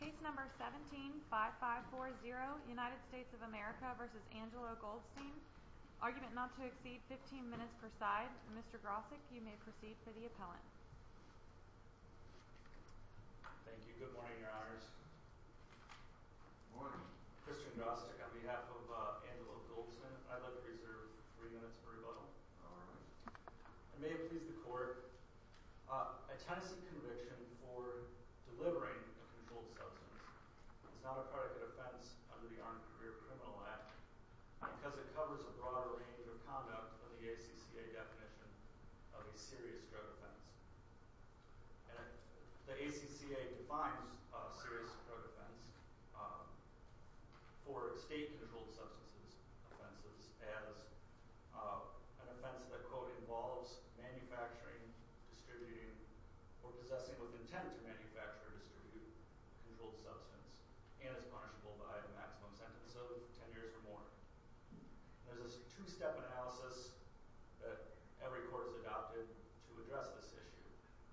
Case No. 17-5540, United States of America v. Angelo Goldston Argument not to exceed 15 minutes per side Mr. Grosick, you may proceed for the appellant Thank you. Good morning, your honors Good morning Christian Grosick on behalf of Angelo Goldston I'd like to reserve three minutes for rebuttal Alright I may have pleased the court A Tennessee conviction for delivering a controlled substance is not a predicate offense under the Armed Career Criminal Act because it covers a broader range of conduct than the ACCA definition of a serious drug offense The ACCA defines a serious drug offense for state controlled substances offenses as an offense that, quote, involves manufacturing, distributing, or possessing with intent to manufacture or distribute a controlled substance and is punishable by a maximum sentence of 10 years or more There's a two-step analysis that every court has adopted to address this issue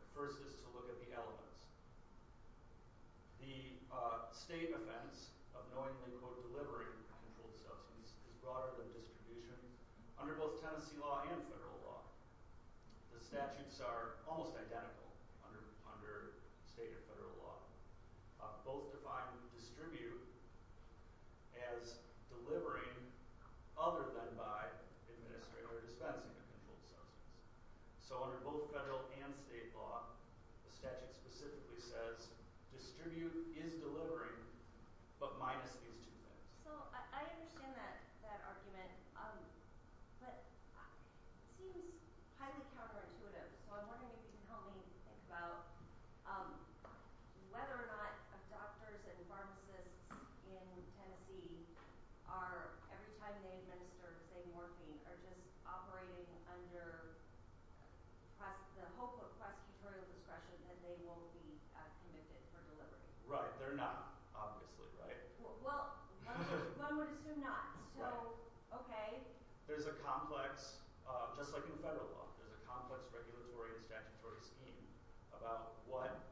The first is to look at the elements The state offense of knowingly, quote, delivering a controlled substance is broader than distribution Under both Tennessee law and federal law the statutes are almost identical under state or federal law Both define distribute as delivering other than by administering or dispensing a controlled substance So under both federal and state law the statute specifically says distribute is delivering, but minus these two things So I understand that argument but it seems highly counterintuitive so I'm wondering if you can help me think about whether or not doctors and pharmacists in Tennessee are, every time they administer, say, morphine are just operating under the hope of prosecutorial discretion that they won't be convicted for delivering Right, they're not, obviously, right? Well, one would assume not, so, okay There's a complex, just like in federal law there's a complex regulatory and statutory scheme about what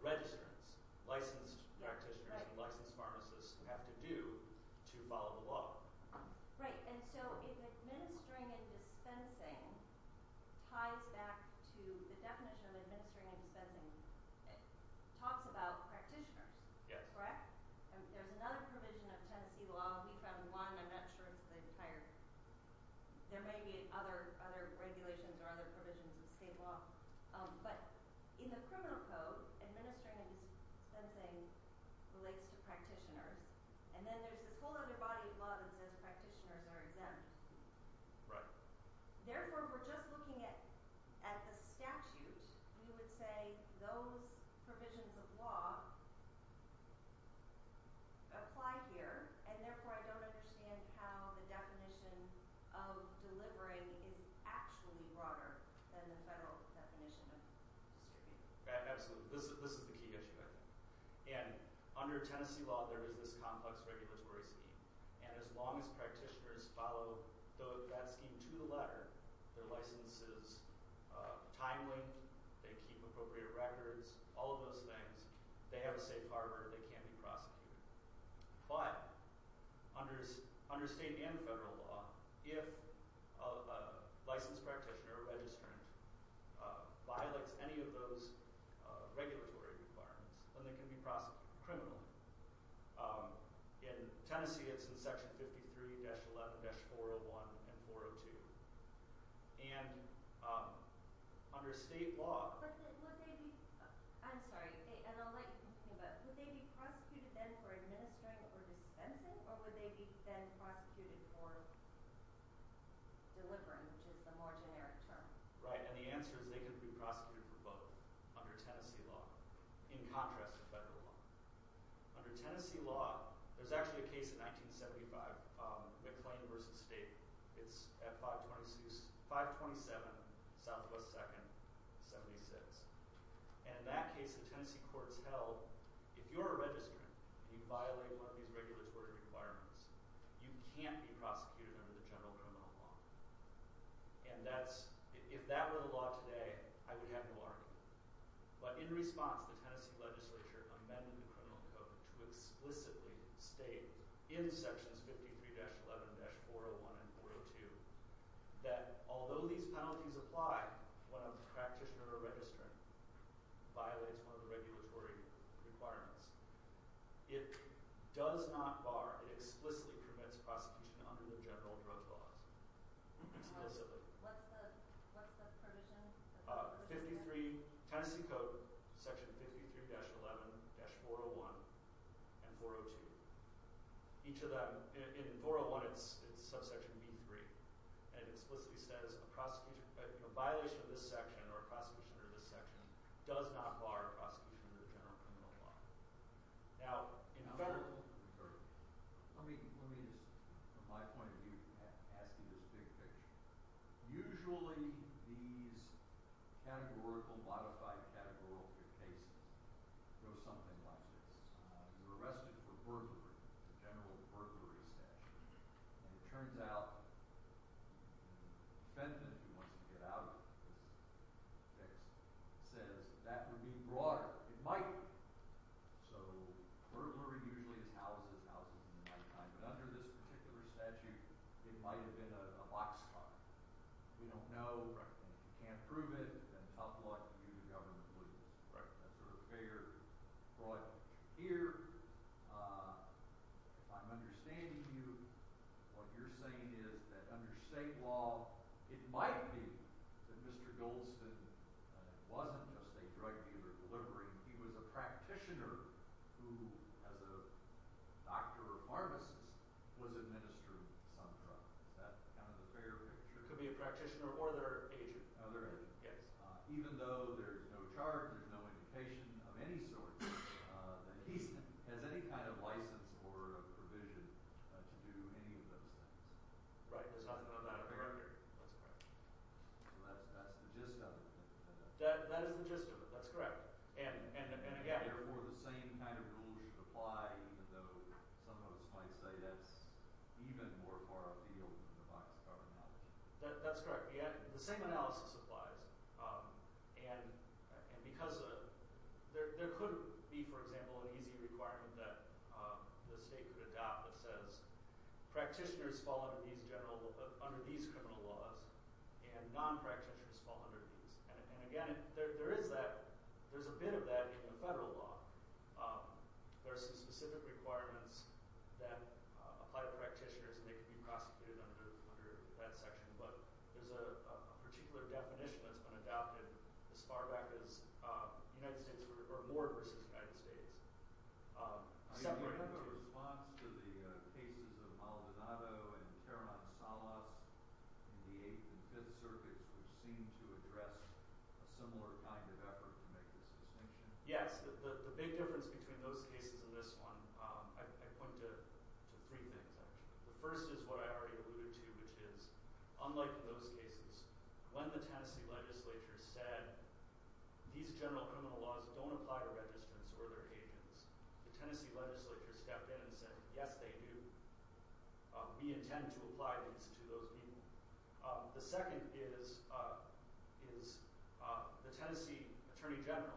registrants, licensed practitioners and licensed pharmacists have to do to follow the law Right, and so if administering and dispensing ties back to the definition of administering and dispensing it talks about practitioners, correct? There's another provision of Tennessee law we found one, I'm not sure if they've hired there may be other regulations or other provisions of state law but in the criminal code administering and dispensing relates to practitioners and then there's this whole other body of law that says practitioners are exempt Right Therefore, we're just looking at the statute we would say those provisions of law apply here, and therefore I don't understand how the definition of delivering is actually broader than the federal definition of distributing Absolutely, this is the key issue, I think And under Tennessee law, there is this complex regulatory scheme and as long as practitioners follow that scheme to the letter their licenses, time limit, they keep appropriate records all of those things, they have a safe harbor they can be prosecuted But under state and federal law if a licensed practitioner or registrant violates any of those regulatory requirements then they can be prosecuted criminally In Tennessee, it's in section 53-11-401 and 402 And under state law I'm sorry, and I'll let you continue but would they be prosecuted then for administering or dispensing or would they be then prosecuted for delivering which is the more generic term Right, and the answer is they could be prosecuted for both under Tennessee law in contrast to federal law Under Tennessee law, there's actually a case in 1975 McLean v. State It's at 527 SW 2nd 76 And in that case, the Tennessee courts held if you're a registrant and you violate one of these regulatory requirements you can't be prosecuted under the general criminal law And that's, if that were the law today I would have no argument But in response, the Tennessee legislature amended the criminal code to explicitly state in sections 53-11-401 and 402 that although these penalties apply when a practitioner or registrant violates one of the regulatory requirements it does not bar it explicitly permits prosecution under the general drug laws explicitly What's the provision? Tennessee Code, section 53-11-401 and 402 In 401, it's subsection B3 and it explicitly says a violation of this section or a prosecution under this section does not bar prosecution under the general criminal law Now, in federal law Let me just, from my point of view ask you this big picture Usually, these categorical, modified categorical cases go something like this You're arrested for burglary a general burglary statute And it turns out the defendant who wants to get out of this fix says that would be broader It might be So, burglary usually is houses houses in the nighttime But under this particular statute it might have been a boxcar We don't know and if you can't prove it then tough luck, you government lose That's sort of fair, broad Here I'm understanding you what you're saying is that under state law it might be that Mr. Goldston wasn't just a drug dealer delivering he was a practitioner who, as a doctor or pharmacist was administering some drug Is that kind of a fair picture? Could be a practitioner or their agent Even though there's no chart there's no indication of any sort that he has any kind of license or provision to do any of those things Right, there's nothing about a burglary That's correct That's the gist of it That is the gist of it, that's correct And again Therefore, the same kind of rules should apply even though some of us might say that's even more far afield than the boxcar analogy That's correct The same analysis applies and because there could be, for example an easy requirement that the state could adopt that says practitioners fall under these general under these criminal laws and non-practitioners fall under these and again, there is that there's a bit of that in the federal law There are some specific requirements that apply to practitioners and they can be prosecuted under that section but there's a particular definition that's been adopted as far back as the United States or more versus the United States Do you have a response to the cases of Maldonado and Terran Salas in the 8th and 5th circuits which seem to address a similar kind of effort to make this distinction? Yes, the big difference between those cases and this one, I point to three things actually The first is what I already alluded to which is, unlike those cases when the Tennessee legislature said these general criminal laws don't apply to registrants or their agents the Tennessee legislature stepped in and said, yes they do We intend to apply these to those people The second is the Tennessee Attorney General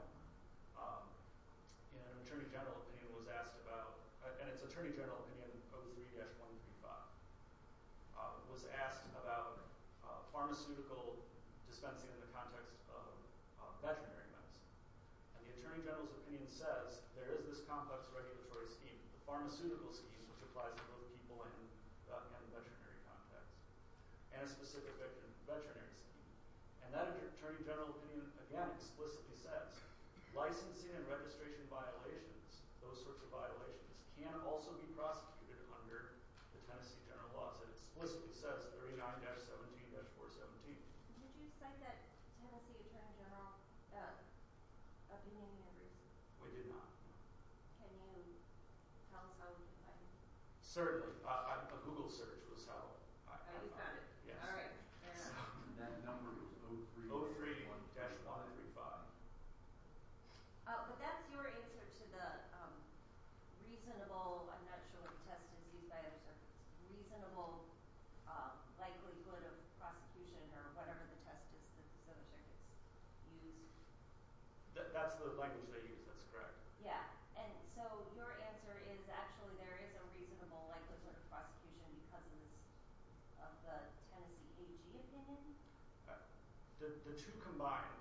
in an Attorney General opinion was asked about and it's Attorney General opinion 03-135 was asked about pharmaceutical dispensing in the context of veterinary medicine and the Attorney General's opinion says there is this complex regulatory scheme the pharmaceutical scheme which applies to both people in the veterinary context and specific veterinary and that Attorney General opinion again explicitly says licensing and registration violations, those sorts of violations can also be prosecuted under the Tennessee general laws and it explicitly says 39-17-417 Did you cite that Tennessee Attorney General opinion in your briefs? We did not Can you tell us how we can find it? Certainly A Google search was how I found it The number was 03-135 But that's your answer to the reasonable, I'm not sure what the test is used by, reasonable likelihood of prosecution or whatever the test is used That's the language they use, that's correct So your answer is actually there is a reasonable likelihood of prosecution because of the Tennessee AG opinion? The two combined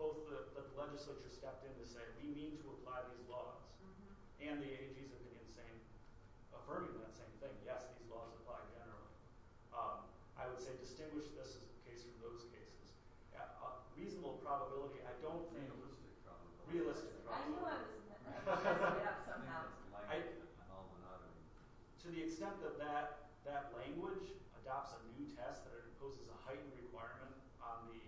both the legislature stepped in to say we need to apply these laws and the AG's opinion affirming that same thing, yes these laws apply generally I would say distinguish this case from those cases Reasonable probability I don't think Realistic probability To the extent that that language adopts a new test that it imposes a heightened requirement on the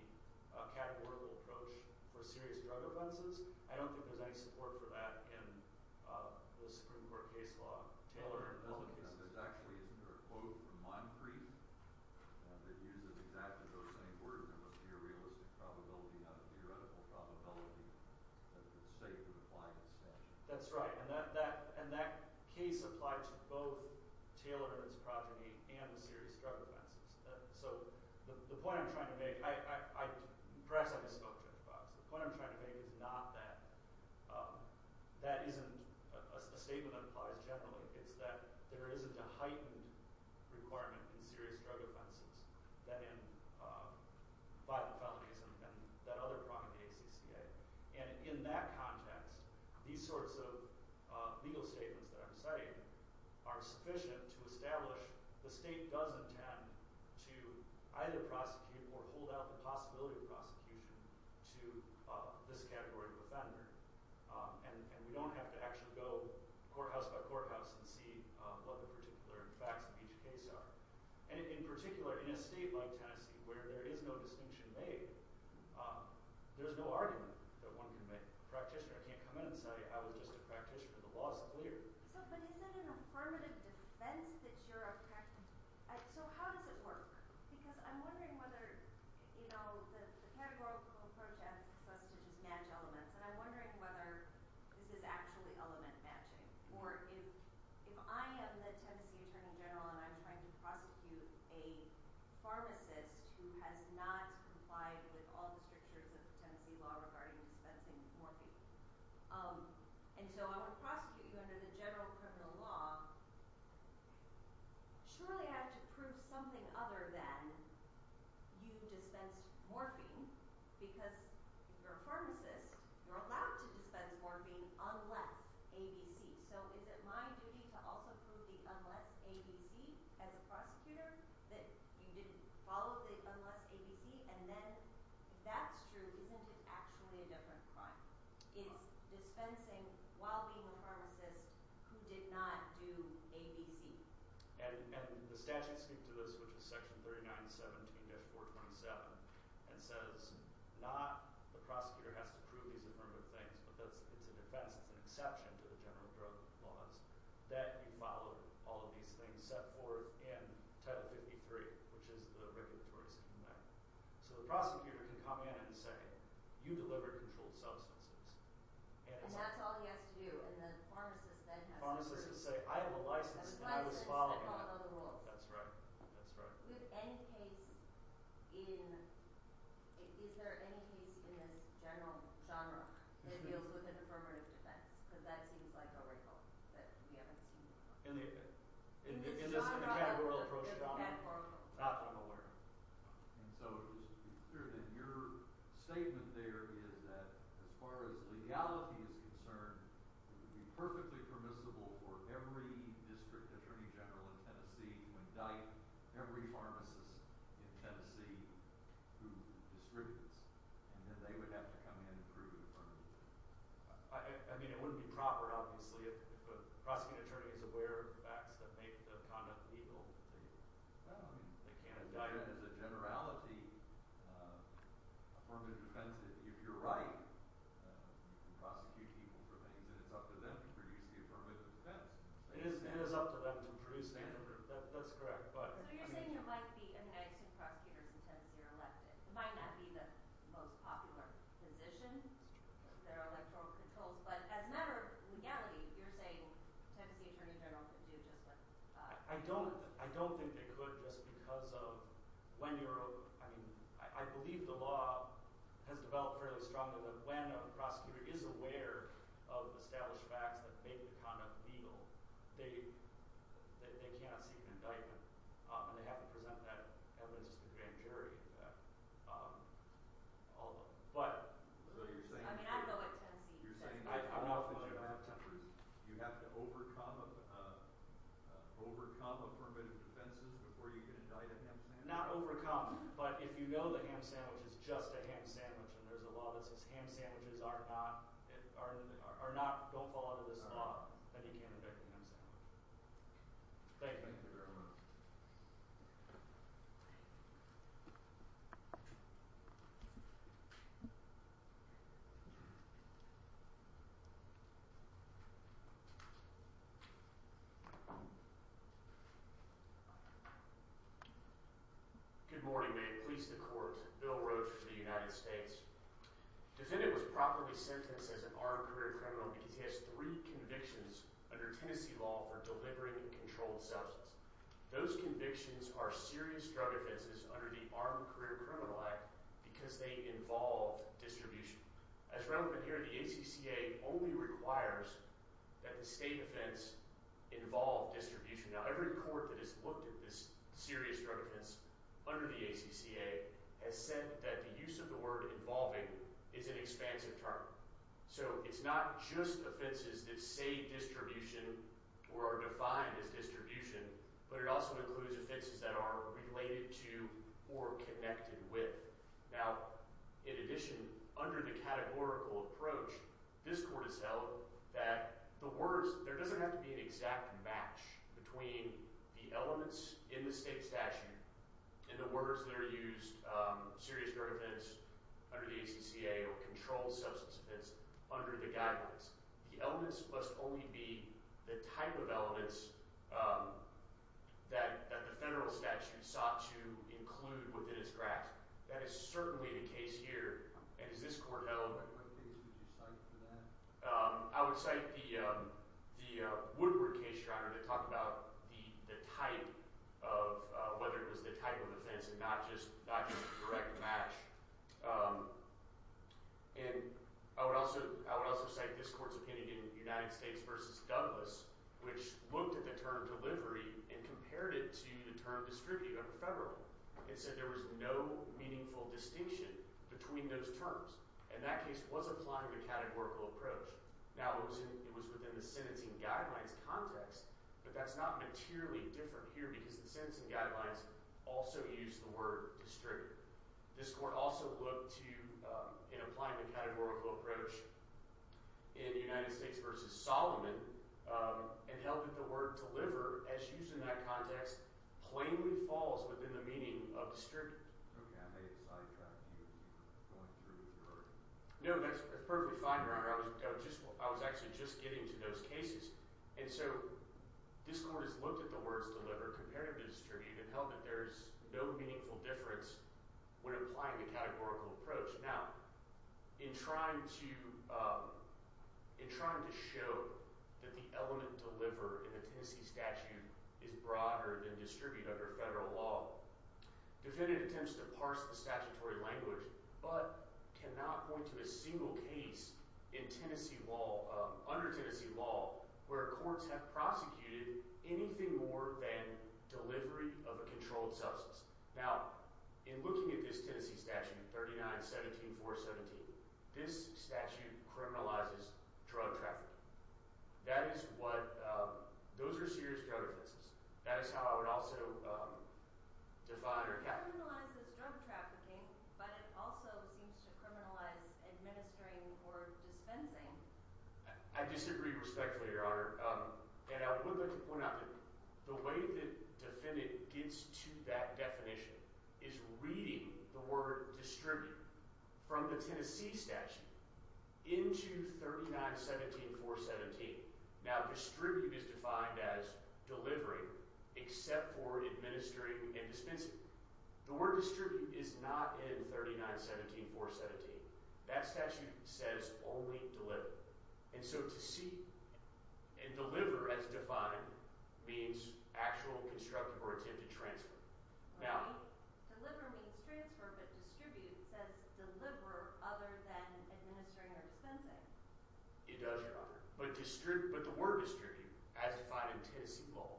categorical approach for serious drug offenses I don't think there is any support for that in the Supreme Court case law Taylor Actually isn't there a quote from Moncrief that uses exactly those same words There must be a realistic probability not a theoretical probability that it's safe to apply it That's right And that case applies to both Taylor and his progeny and serious drug offenses So the point I'm trying to make Perhaps I'm a smoke check box The point I'm trying to make is not that that isn't a statement that applies generally It's that there isn't a heightened requirement in serious drug offenses than in violent felonies and that other prong of the ACCA And in that context these sorts of legal statements that I'm citing are sufficient to establish the state does intend to either prosecute or hold out the possibility of prosecution to this categorical offender And we don't have to actually go courthouse by courthouse and see what the particular facts of each case are In particular, in a state like Tennessee where there is no distinction made there's no argument that one can make A practitioner can't come in and say I was just a practitioner The law is clear So how does it work? Because I'm wondering whether the categorical approach asks us to just match elements and I'm wondering whether this is actually element matching Or if I am the Tennessee Attorney General and I'm trying to prosecute a pharmacist who has not complied with all the strictures of Tennessee law regarding dispensing morphine And so I want to prosecute you under the general criminal law Surely I have to prove something other than you dispensed morphine because you're a pharmacist You're allowed to dispense morphine unless ABC So is it my duty to also prove the unless ABC as a prosecutor that you didn't follow the unless ABC and then if that's true isn't it actually a different crime It's dispensing while being a pharmacist who did not do ABC And the statute speaks to this which is section 3917-427 and says not the prosecutor has to prove these affirmative things but it's a defense, it's an exception to the general drug laws that you followed all of these things set forth in Title 53 which is the regulatory section there So the prosecutor can come in and say you delivered controlled substances And that's all he has to do and the pharmacist then has to prove I have a license and I was following That's right Is there any case in this general genre that deals with an affirmative defense because that seems like a record that we haven't seen before It's a genre that we're not going to learn And so your statement there is that as far as legality is concerned it would be perfectly permissible for every district attorney general in Tennessee to indict every pharmacist in Tennessee who distributes and then they would have to come in and prove affirmative I mean it wouldn't be proper obviously if a prosecuting attorney is aware of the facts that make the conduct illegal They can't indict As a generality affirmative defense if you're right you can prosecute people for things and it's up to them to produce the affirmative defense It is up to them to produce the affirmative That's correct So you're saying it might be if two prosecutors in Tennessee are elected It might not be the most popular position There are electoral controls but as a matter of legality you're saying Tennessee attorney general could do just what I don't think they could just because of I believe the law has developed fairly strongly that when a prosecutor is aware of established facts that make the conduct illegal they cannot seek an indictment and they have to present that evidence to the grand jury although I mean I know what Tennessee You have to overcome affirmative defenses before you can indict a ham sandwich Not overcome but if you know the ham sandwich is just a ham sandwich and there's a law that says ham sandwiches are not don't fall under this law that you can't indict the ham sandwich Thank you Good morning may it please the court Bill Roach for the United States Defendant was properly sentenced as an armed career criminal because he has three convictions under Tennessee law for delivering controlled substance Those convictions are serious drug offenses under the Armed Career Criminal Act because they involve distribution As relevant here the ACCA only requires that the state defense involve distribution under the ACCA has said that the use of the word involving is an expansive term so it's not just offenses that say distribution or are defined as distribution but it also includes offenses that are related to or connected with now in addition under the categorical approach this court has held that the words there doesn't have to be an exact match between the elements in the state statute and the words that are used serious drug offense under the ACCA or controlled substance offense under the guidelines the elements must only be the type of elements that the federal statute sought to include within its grasp that is certainly the case here and as this court held I would cite the Woodward case to talk about the type of whether it was the type of offense and not just the correct match and I would also cite this court's opinion in United States v. Douglas which looked at the term delivery and compared it to the term distributed under federal and said there was no meaningful distinction between those terms and that case was applying the categorical approach now it was within the sentencing guidelines context but that's not materially different here because the sentencing guidelines also use the word distributed this court also looked to in applying the categorical approach in United States v. Solomon and held that the word deliver as used in that context plainly falls within the meaning of distributed no that's perfectly fine your honor I was actually just getting to those cases and so this court has looked at the words deliver compared to distributed and held that there's no meaningful difference when applying the categorical approach now in trying to in trying to show that the element deliver in the Tennessee statute is broader than distribute under federal law defendant attempts to parse the statutory language but cannot point to a single case in Tennessee law, under Tennessee law where courts have prosecuted anything more than delivery of a controlled substance now in looking at this Tennessee statute 39-17-4-17 this statute criminalizes drug trafficking that is what those are serious drug offenses that is how I would also define criminalizes drug trafficking but it also seems to criminalize administering or dispensing I disagree respectfully your honor and I would like to point out that the way that defendant gets to that definition is reading the word distribute from the Tennessee statute into 39-17-4-17 now distribute is defined as delivering except for administering and dispensing the word distribute is not in 39-17-4-17 that statute says only deliver and deliver as defined means actual constructive or attempted transfer deliver means transfer but distribute says deliver other than administering or dispensing it does your honor but the word distribute as defined in Tennessee law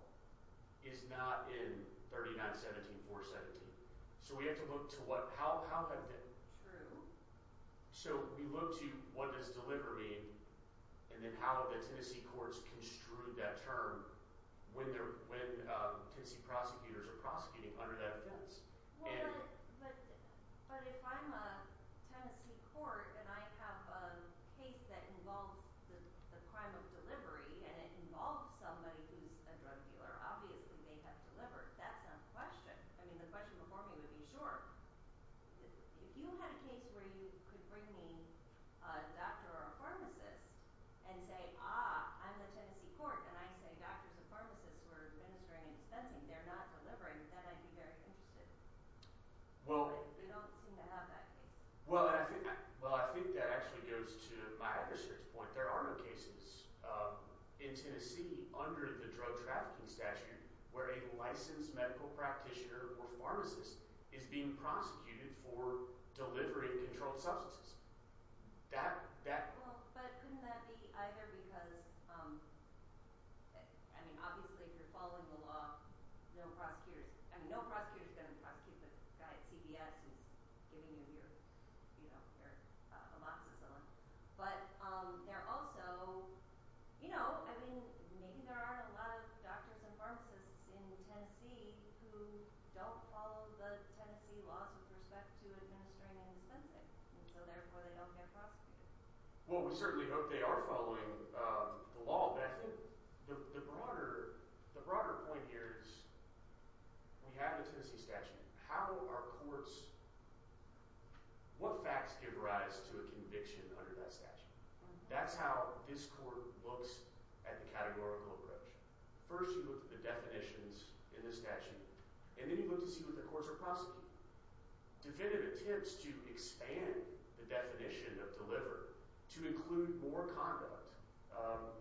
is not in 39-17-4-17 so we have to look to what true so we look to what does deliver mean and then how the Tennessee courts construed that term when Tennessee prosecutors are prosecuting under that offense but if I'm a Tennessee court and I have a case that involves the crime of delivery and it involves somebody who's a drug dealer obviously they have delivered that's not a question I mean the question before me would be sure if you had a case where you could bring me a doctor or a pharmacist and say ah I'm the Tennessee court and I say doctors and pharmacists were administering and dispensing they're not delivering then I'd be very interested but they don't seem to have that case well I think that actually goes to my research point there are no cases in Tennessee under the drug trafficking statute where a licensed medical practitioner or pharmacist is being prosecuted for delivering controlled substances well but couldn't that be either because I mean obviously if you're following the law no prosecutors I mean no prosecutor is going to prosecute the guy at CBS who's giving you your you know your amoxicillin but they're also you know I mean maybe there aren't a lot of doctors and pharmacists in Tennessee who don't follow the Tennessee laws with respect to administering and dispensing and so therefore they don't get prosecuted well we certainly hope they are following the law but I think the broader point here is we have the Tennessee statute how are courts what facts give rise to a conviction under that statute that's how this court looks at the categorical approach first you look at the definitions in the statute and then you look to see what the courts are prosecuting definitive attempts to expand the definition of deliver to include more conduct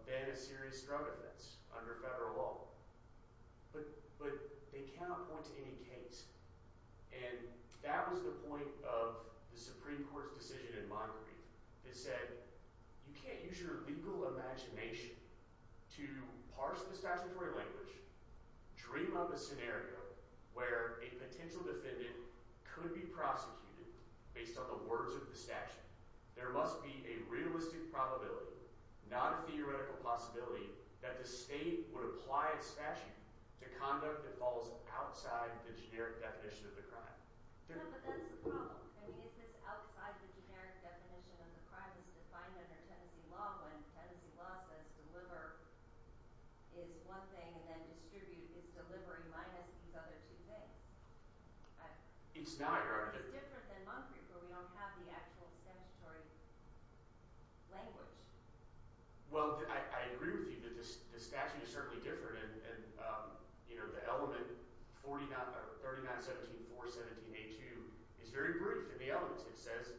than a serious drug offense under federal law but they cannot point to any case and that was the point of the Supreme Court's decision in Montgomery that said you can't use your legal imagination to parse the statutory language dream up a scenario where a potential defendant could be prosecuted based on the words of the statute there must be a realistic probability not a theoretical possibility that the state would apply its statute to conduct that falls outside the generic definition of the crime no but that's the problem I mean is this outside the generic definition of the crime it's defined under Tennessee law when Tennessee law says deliver is one thing and then distribute is delivery minus these other two things it's not it's different than Montgomery where we don't have the actual statutory language well I agree with you the statute is certainly different the element 39 17 4 17 8 2 is very brief in the elements it says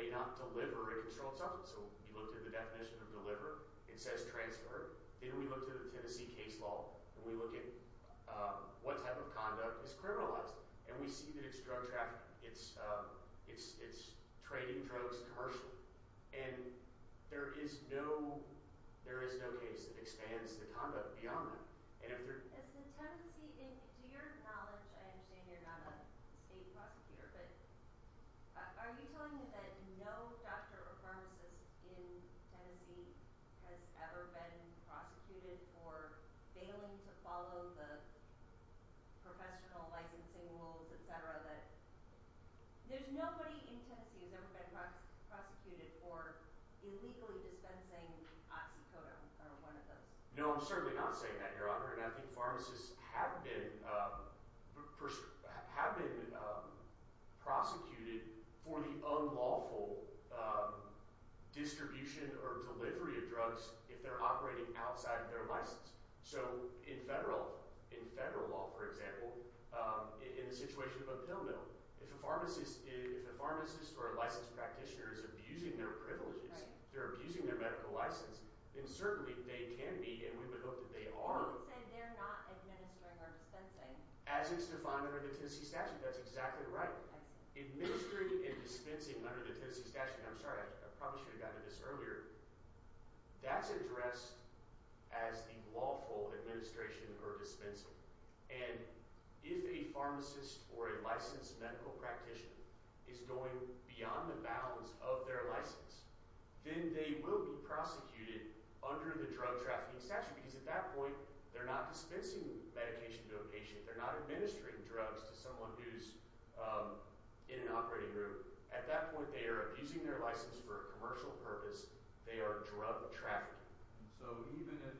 may not deliver a controlled substance so we looked at the definition of deliver it says transfer then we looked at the Tennessee case law and we look at what type of conduct is criminalized and we see that it's drug trafficking it's trading drugs commercially and there is no case that expands the conduct beyond that to your knowledge I understand you're not a state prosecutor but are you telling me that no doctor or pharmacist in Tennessee has ever been prosecuted for failing to follow the professional licensing rules etc that there's nobody in Tennessee who's ever been prosecuted for illegally dispensing oxycodone or one of those no I'm certainly not saying that your honor and I think pharmacists have been have been prosecuted for the unlawful distribution or delivery of drugs if they're operating outside of their license so in federal law for example in the situation of a pill mill if a pharmacist or a licensed practitioner is abusing their privileges they're abusing their medical license then certainly they can be and we would hope that they are they're not administering or dispensing as it's defined under the Tennessee statute that's exactly right administering and dispensing under the Tennessee statute I'm sorry I probably should have gotten to this earlier that's addressed as the lawful administration or dispensing and if a pharmacist or a licensed medical practitioner is going beyond the bounds of their license then they will be prosecuted under the drug trafficking statute because at that point they're not dispensing medication to a patient they're not administering drugs to someone who's in an operating room at that point they are abusing their license for a commercial purpose they are drug trafficking so even if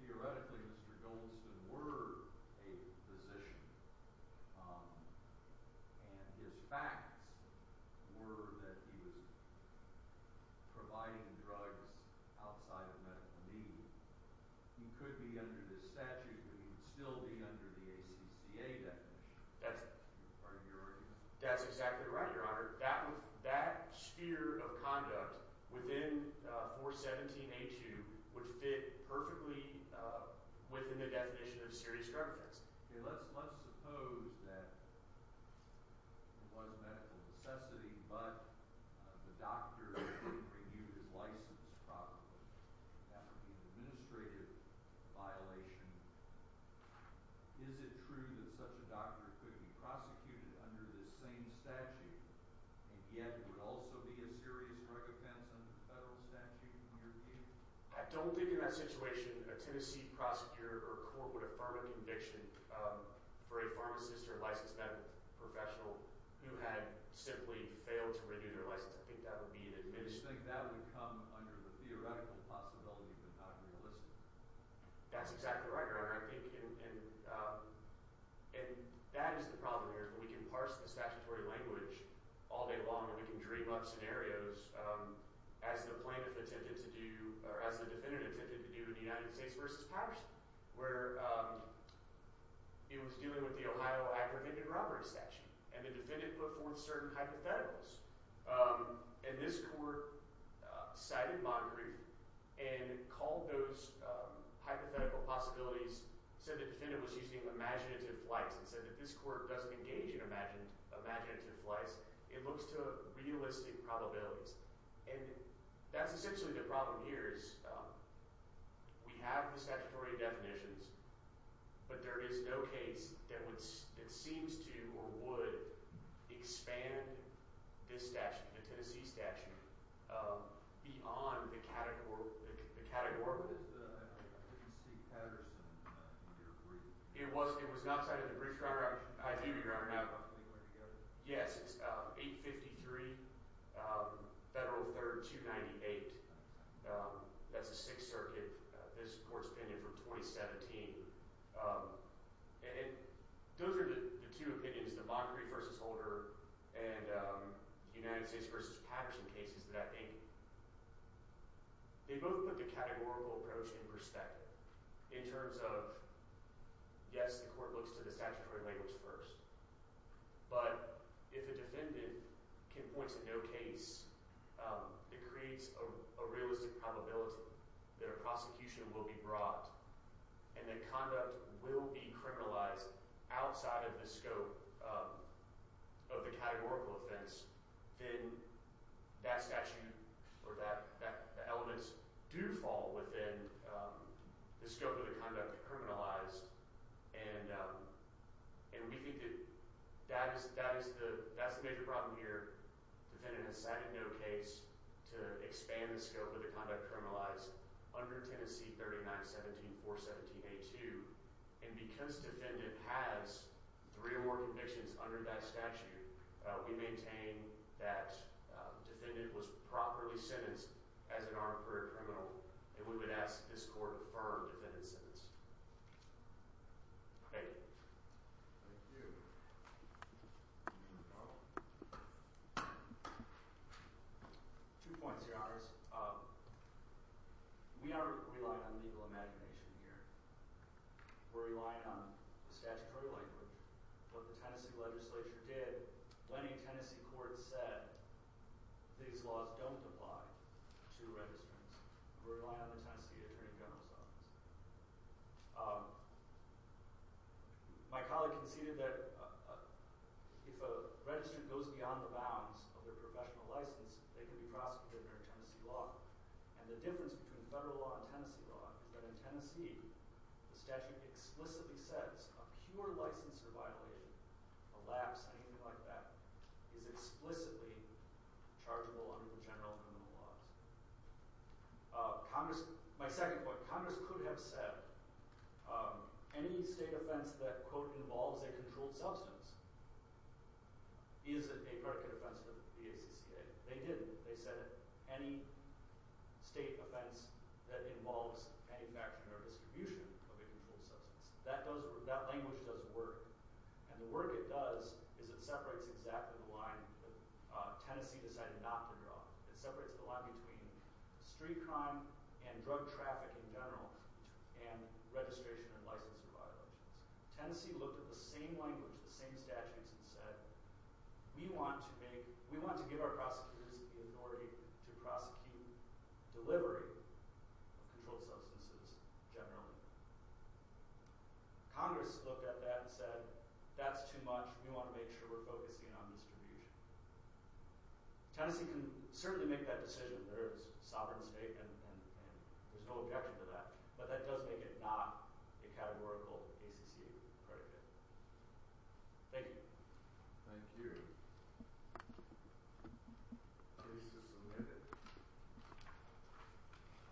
theoretically Mr. Goldston were a physician and his facts were that he was providing drugs outside of medical need he could be under this statute but he would still be under the ACCA definition that's exactly right your honor that sphere of conduct within 417A2 would fit perfectly within the definition of serious drug offense let's suppose that there was medical necessity but the doctor didn't review his license properly that would be an administrative violation is it true that such a doctor could be prosecuted under this same statute and yet it would also be a serious drug offense under the federal statute in your view? I don't think in that situation a Tennessee prosecutor or court would affirm a conviction for a pharmacist or licensed medical professional who had simply failed to review their license I think that would come under the theoretical possibility but not realistic that's exactly right your honor I think and that is the problem here we can parse the statutory language all day long and we can dream up scenarios as the plaintiff attempted to do or as the defendant attempted to do in the United States v. Powers where it was dealing with the Ohio apprehended robbery statute and the defendant put forth certain hypotheticals and this court cited Montgomery and called those hypothetical possibilities said the defendant was using imaginative flights and said that this court doesn't engage in imaginative flights it looks to realistic probabilities and that's essentially the problem here is we have the statutory definitions but there is no case that seems to or would expand this statute, the Tennessee statute beyond the category it was not cited in the brief your honor I do your honor yes it's 853 Federal 3rd 298 that's the 6th circuit, this court's opinion from 2017 and it, those are the two opinions, Montgomery v. Holder and United States v. Powers in cases that I think they both put the categorical approach in perspective in terms of yes the court looks to the statutory language first but if a defendant can point to no case that creates a realistic probability that a prosecution will be brought and that conduct will be criminalized outside of the scope of the categorical offense then that statute or that, the elements do fall within the scope of the conduct criminalized and we think that that's the major problem here, defendant has cited no case to expand the scope of the conduct criminalized under Tennessee 39-17-4-17-A-2 and because defendant has three or more convictions under that statute we maintain that defendant was properly sentenced as an armed career criminal and we would ask this court to defer defendant's sentence Thank you Thank you Thank you Two points your honors we are relying on legal imagination here we're relying on the statutory language what the Tennessee legislature did when the Tennessee court said these laws don't apply to registrants we're relying on the Tennessee attorney general's office my colleague conceded that if a registrant goes beyond the bounds of their professional license they can be prosecuted under Tennessee law and the difference between federal law and Tennessee law is that in Tennessee the statute explicitly says a pure licensure violation a lapse, anything like that is explicitly chargeable under the general criminal laws Congress my second point, Congress could have said any state offense that quote involves a controlled substance is a predicate offense to the ACCA they didn't, they said any state offense that involves manufacturing or distribution of a controlled substance that language does work and the work it does is it separates exactly the line that Tennessee decided not to draw it separates the line between street crime and drug traffic in general and registration and licensure violations Tennessee looked at the same language the same statutes and said we want to give our prosecutors the authority to prosecute delivery of controlled substances generally Congress looked at that and said that's too much, we want to make sure we're focusing on distribution Tennessee can certainly make that decision, there's a sovereign state and there's no objection to that but that does make it not a categorical ACC predicate thank you